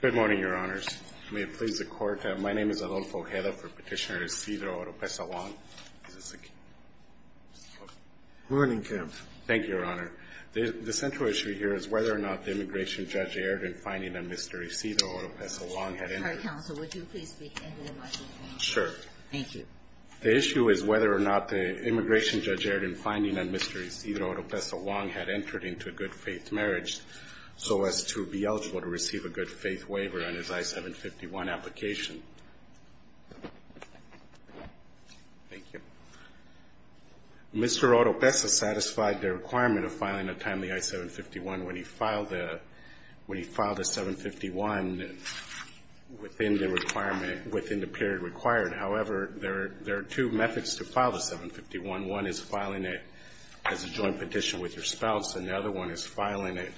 Good morning, your honors. May it please the court, my name is Adolfo Hedda for petitioner Isidro Oropeza-Wong. Is this a key? Morning, Kev. Thank you, your honor. The central issue here is whether or not the immigration judge erred in finding that Mr. Isidro Oropeza-Wong had entered into a good faith marriage so as to be eligible to receive a marriage license. good faith waiver on his I-751 application. Thank you. Mr. Oropeza-Wong satisfied the requirement of filing a timely I-751 when he filed a I-751 within the period required. However, there are two methods to file the I-751. One is filing it as a joint petition with your spouse. And the other one is filing it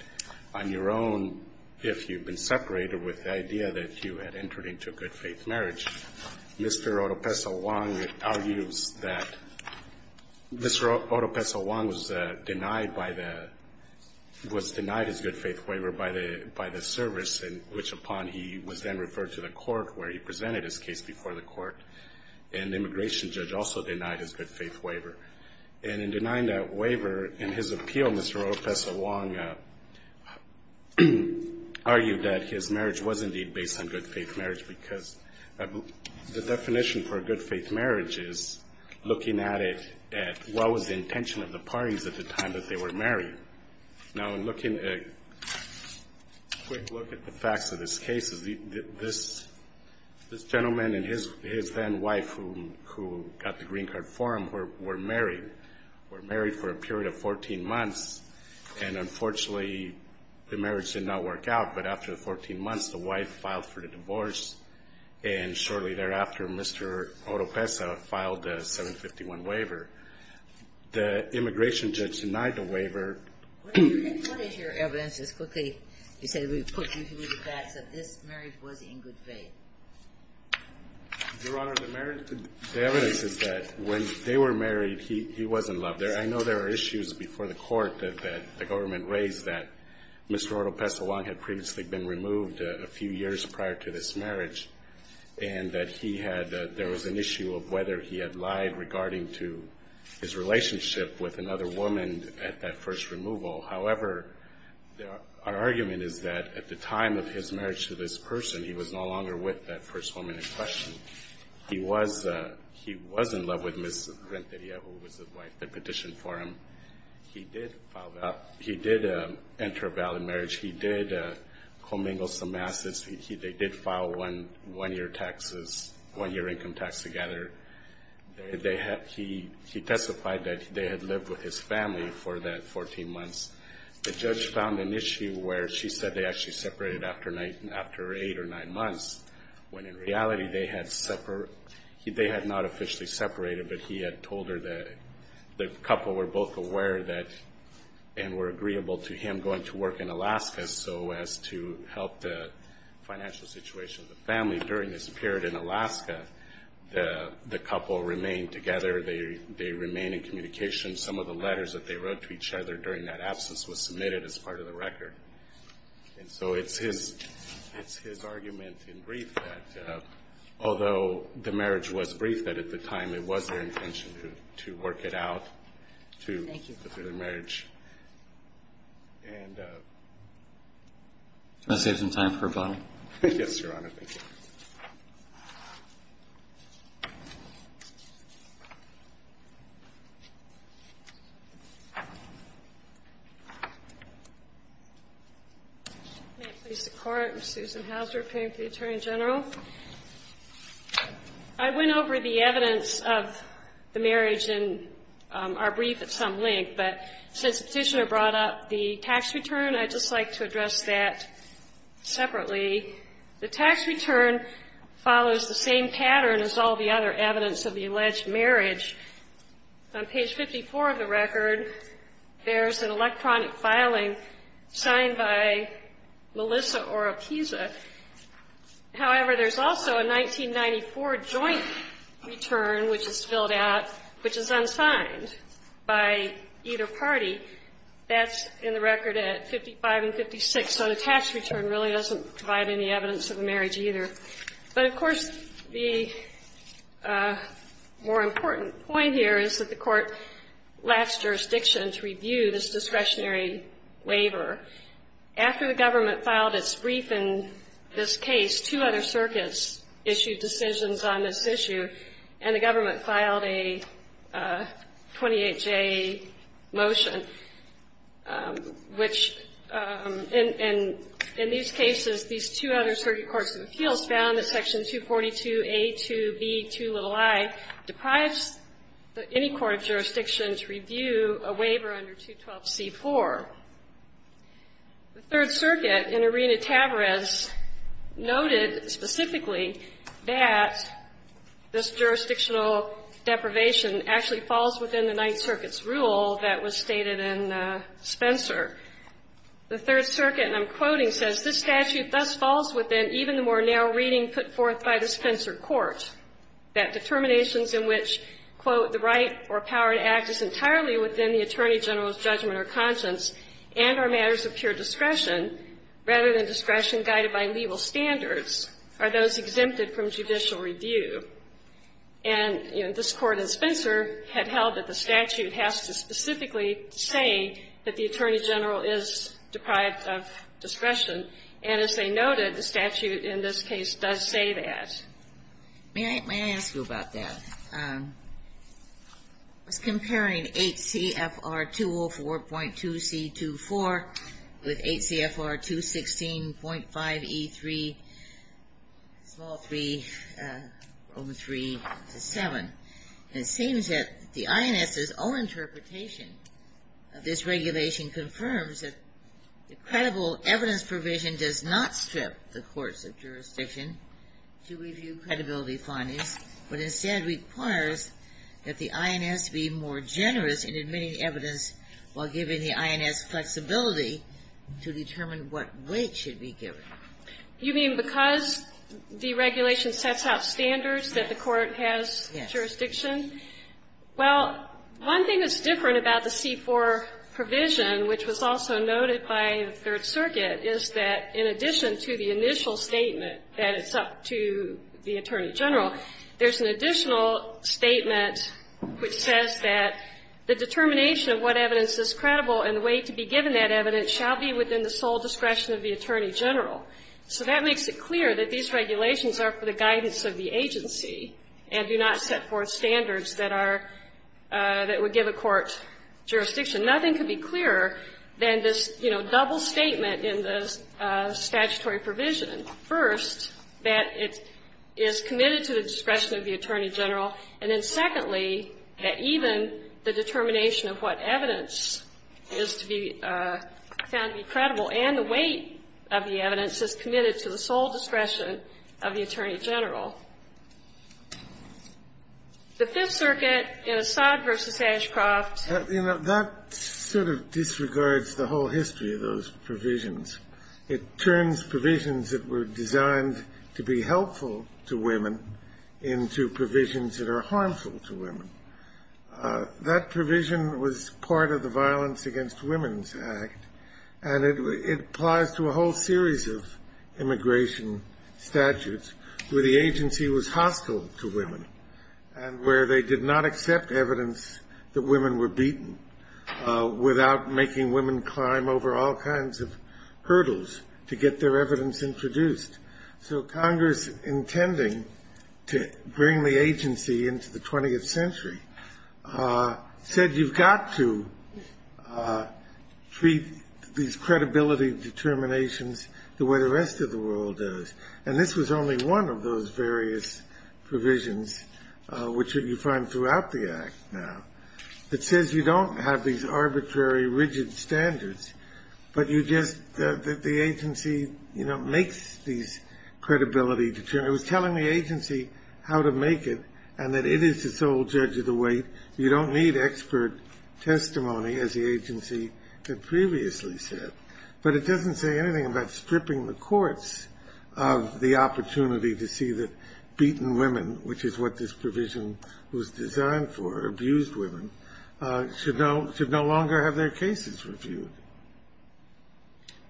on your own if you've been separated with the idea that you had entered into a good faith marriage. Mr. Oropeza-Wong argues that Mr. Oropeza-Wong was denied his good faith waiver by the service, which upon he was then referred to the court where he presented his case before the court. And the immigration judge also denied his good faith waiver. And in denying that waiver, in his appeal, Mr. Oropeza-Wong argued that his marriage was indeed based on good faith marriage because the definition for a good faith marriage is looking at it at what was the intention of the parties at the time that they were married. Now, in looking at a quick look at the facts of this case, this gentleman and his then wife who got the green card for him were married. They were married for a period of 14 months, and unfortunately, the marriage did not work out. But after the 14 months, the wife filed for the divorce, and shortly thereafter, Mr. Oropeza-Wong filed the I-751 waiver. The immigration judge denied the waiver. What is your evidence, just quickly, you said we put you through the facts that this marriage was in good faith? Your Honor, the evidence is that when they were married, he wasn't loved. I know there are issues before the court that the government raised that Mr. Oropeza-Wong had previously been removed a few years prior to this marriage, and that he had there was an issue of whether he had lied regarding to his relationship with another woman at that first removal. However, our argument is that at the time of his marriage to this person, he was no longer with them. He was in love with Ms. Renteria, who was the wife that petitioned for him. He did enter a valid marriage. He did commingle some assets. They did file one-year income tax together. He testified that they had lived with his family for that 14 months. The judge found an issue where she said they actually separated after eight or nine months. When in reality, they had not officially separated, but he had told her that the couple were both aware that and were agreeable to him going to work in Alaska so as to help the financial situation of the family. During this period in Alaska, the couple remained together. They remained in communication. Some of the letters that they wrote to each other during that absence was submitted as part of the record. And so it's his argument in brief that, although the marriage was brief, that at the time it was their intention to work it out, to fulfill their marriage. And... May it please the Court, I'm Susan Houser, paying for the Attorney General. I went over the evidence of the marriage in our brief at some length, but since the petitioner brought up the tax return, I'd just like to address that separately. The tax return follows the same pattern as all the other evidence of the alleged marriage. On page 54 of the record, there's an electronic filing signed by Melissa Oropisa. However, there's also a 1994 joint return which is filled out, which is unsigned by either party. That's in the record at 55 and 56, so the tax return really doesn't provide any evidence of the marriage either. But of course, the more important point here is that the Court lacks jurisdiction to review this discretionary waiver. After the government filed its brief in this case, two other circuits issued decisions on this issue, and the government filed a 28-J motion, which in these cases, these two other circuit courts in the field, found that Section 242A2B2i deprives any court of jurisdiction to review a waiver under 212C4. The Third Circuit in Arena-Tavarez noted specifically that this jurisdictional deprivation actually falls within the Ninth Circuit's rule that was stated in Spencer. The Third Circuit, and I'm quoting, says, And, you know, this Court in Spencer had held that the statute has to specifically say that the Attorney General is deprived of discretion, and as they noted, the statute in this case does say that. May I ask you about that? I was comparing 8CFR204.2C24 with 8CFR216.5E3, small 3, over 3 to 7, and it seems that the INS's own interpretation of this regulation confirms that the credible evidence provision does not strip the courts of jurisdiction to review credibility findings, but instead requires that the INS be more generous in admitting evidence while giving the INS flexibility to determine what weight should be given. You mean because the regulation sets out standards that the Court has jurisdiction over? Well, one thing that's different about the C-4 provision, which was also noted by the Third Circuit, is that in addition to the initial statement that it's up to the Attorney General, there's an additional statement which says that the determination of what evidence is credible and the weight to be given that evidence shall be within the sole discretion of the Attorney General. So that makes it clear that these regulations are for the guidance of the agency and do not set forth standards that are, that would give a court jurisdiction. Nothing could be clearer than this, you know, double statement in the statutory provision. First, that it is committed to the discretion of the Attorney General, and then secondly, that even the determination of what evidence is to be found to be credible and the weight of the evidence is committed to the sole discretion of the Attorney General. The Fifth Circuit in Assad v. Ashcroft You know, that sort of disregards the whole history of those provisions. It turns provisions that were designed to be helpful to women into provisions that are harmful to women. That provision was part of the Violence Against Women's Act, and it applies to a whole series of immigration statutes where the agency was hostile to women and where they did not accept evidence that women were beaten without making women climb over all kinds of hurdles to get their evidence introduced. So Congress, intending to bring the agency into the 20th century, said you've got to treat these credibility provisions and determinations the way the rest of the world does. And this was only one of those various provisions, which you find throughout the Act now, that says you don't have these arbitrary, rigid standards, but you just, that the agency, you know, makes these credibility determinants. It was telling the agency how to make it and that it is the sole judge of the weight. You don't need expert testimony, as the agency had previously said. But it doesn't mean that you can't make it. It doesn't say anything about stripping the courts of the opportunity to see that beaten women, which is what this provision was designed for, abused women, should no longer have their cases reviewed.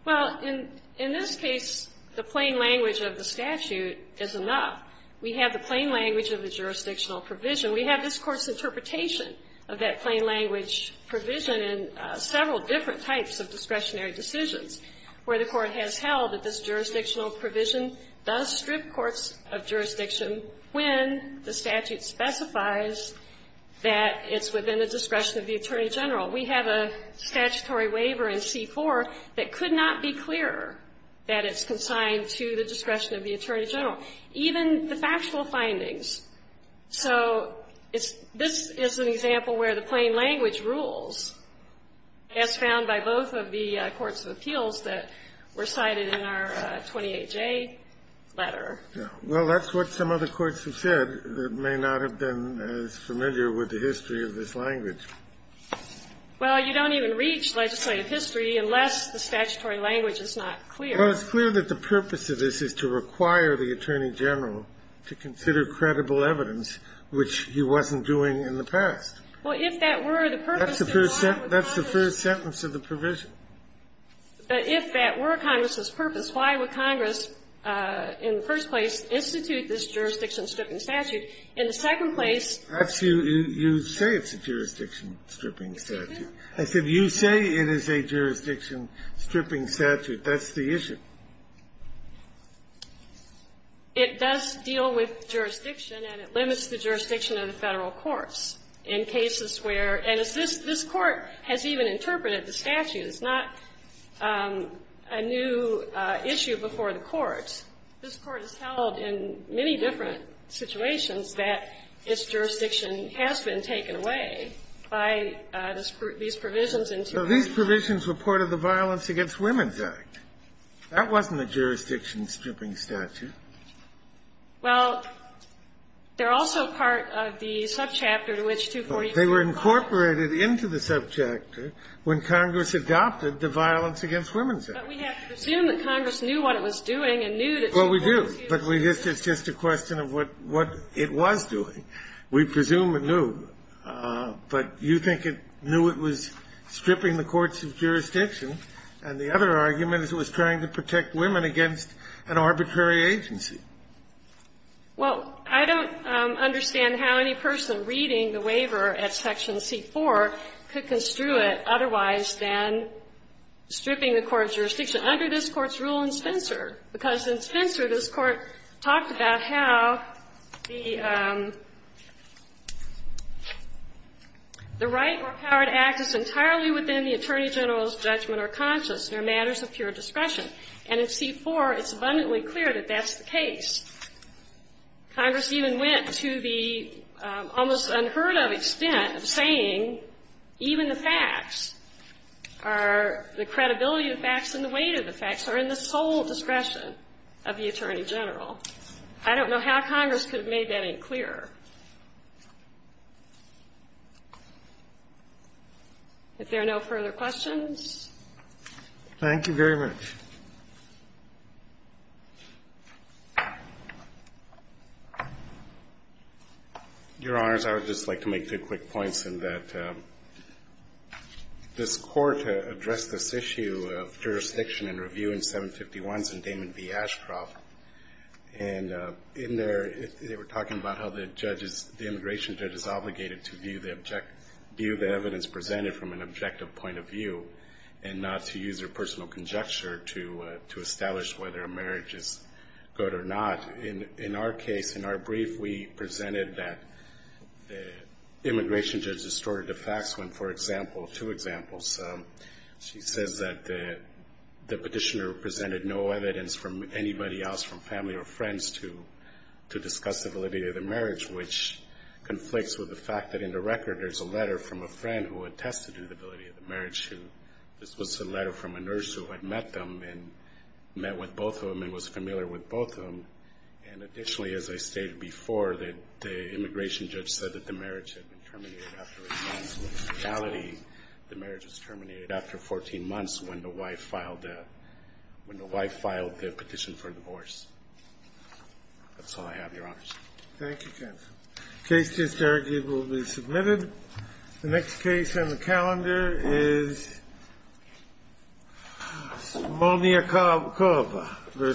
Well, in this case, the plain language of the statute is enough. We have the plain language of the jurisdictional provision. We have this Court's interpretation of that plain language provision in several different types of discretionary decisions, where the Court has held that this jurisdictional provision does strip courts of jurisdiction when the statute specifies that it's within the discretion of the attorney general. We have a statutory waiver in C-4 that could not be clearer that it's consigned to the discretion of the attorney general, even the factual findings. So it's, this is an example where the plain language rules, as found by both of the courts of appeals that were cited in our 28J letter. Well, that's what some other courts have said that may not have been as familiar with the history of this language. Well, you don't even reach legislative history unless the statutory language is not clear. Well, it's clear that the purpose of this is to require the attorney general to consider credible evidence, which he wasn't doing in the past. Well, if that were the purpose, then why would Congress do it? That's the first sentence of the provision. But if that were Congress's purpose, why would Congress, in the first place, institute this jurisdiction-stripping statute? In the second place you say it's a jurisdiction-stripping statute. I said you say it is a jurisdiction-stripping statute. That's the issue. It does deal with jurisdiction, and it limits the jurisdiction of the Federal courts. In cases where, and this Court has even interpreted the statute. It's not a new issue before the Court. This Court has held in many different situations that this jurisdiction has been taken away by these provisions. So these provisions were part of the Violence Against Women's Act. That wasn't a jurisdiction-stripping statute. Well, they're also part of the subchapter to which 244 goes. They were incorporated into the subchapter when Congress adopted the Violence Against Women's Act. But we have to presume that Congress knew what it was doing and knew that it was going to do it. Well, we do. But it's just a question of what it was doing. We presume it knew. But you think it knew it was stripping the courts of jurisdiction, and the other argument is it was trying to protect women against an arbitrary agency. Well, I don't understand how any person reading the waiver at section C-4 could construe it otherwise than stripping the court of jurisdiction under this Court's rule in Spencer. Because in Spencer, this Court talked about how the right or power to act is entirely within the attorney general's judgment or conscience. They're matters of pure discretion. And in C-4, it's abundantly clear that that's the case. Congress even went to the almost unheard-of extent of saying even the facts are the credibility of the facts and the weight of the facts are in the sole discretion of the attorney general. I don't know how Congress could have made that any clearer. If there are no further questions. Thank you very much. Your Honors, I would just like to make two quick points in that this Court addressed this issue of jurisdiction and review in 751s and Damon v. Ashcroft. And in there, they were talking about how the immigration judge is obligated to view the evidence presented from an objective point of view and not to use their personal conjecture to establish whether a marriage is good or not. In our case, in our brief, we presented that the immigration judge distorted the facts when, for example, two examples, she says that the petitioner presented no evidence from anybody else, from family or friends, to discuss the validity of the marriage, which conflicts with the fact that in the record, there's a letter from a friend who attested to the validity of the marriage. This was a letter from a nurse who had met them and met with both of them and was familiar with both of them. And additionally, as I stated before, the immigration judge said that the marriage had been terminated after a month. In reality, the marriage was terminated after 14 months when the wife filed the, the petition for divorce. That's all I have, Your Honors. Thank you, Ken. Case just argued will be submitted. The next case on the calendar is Somonia Kova versus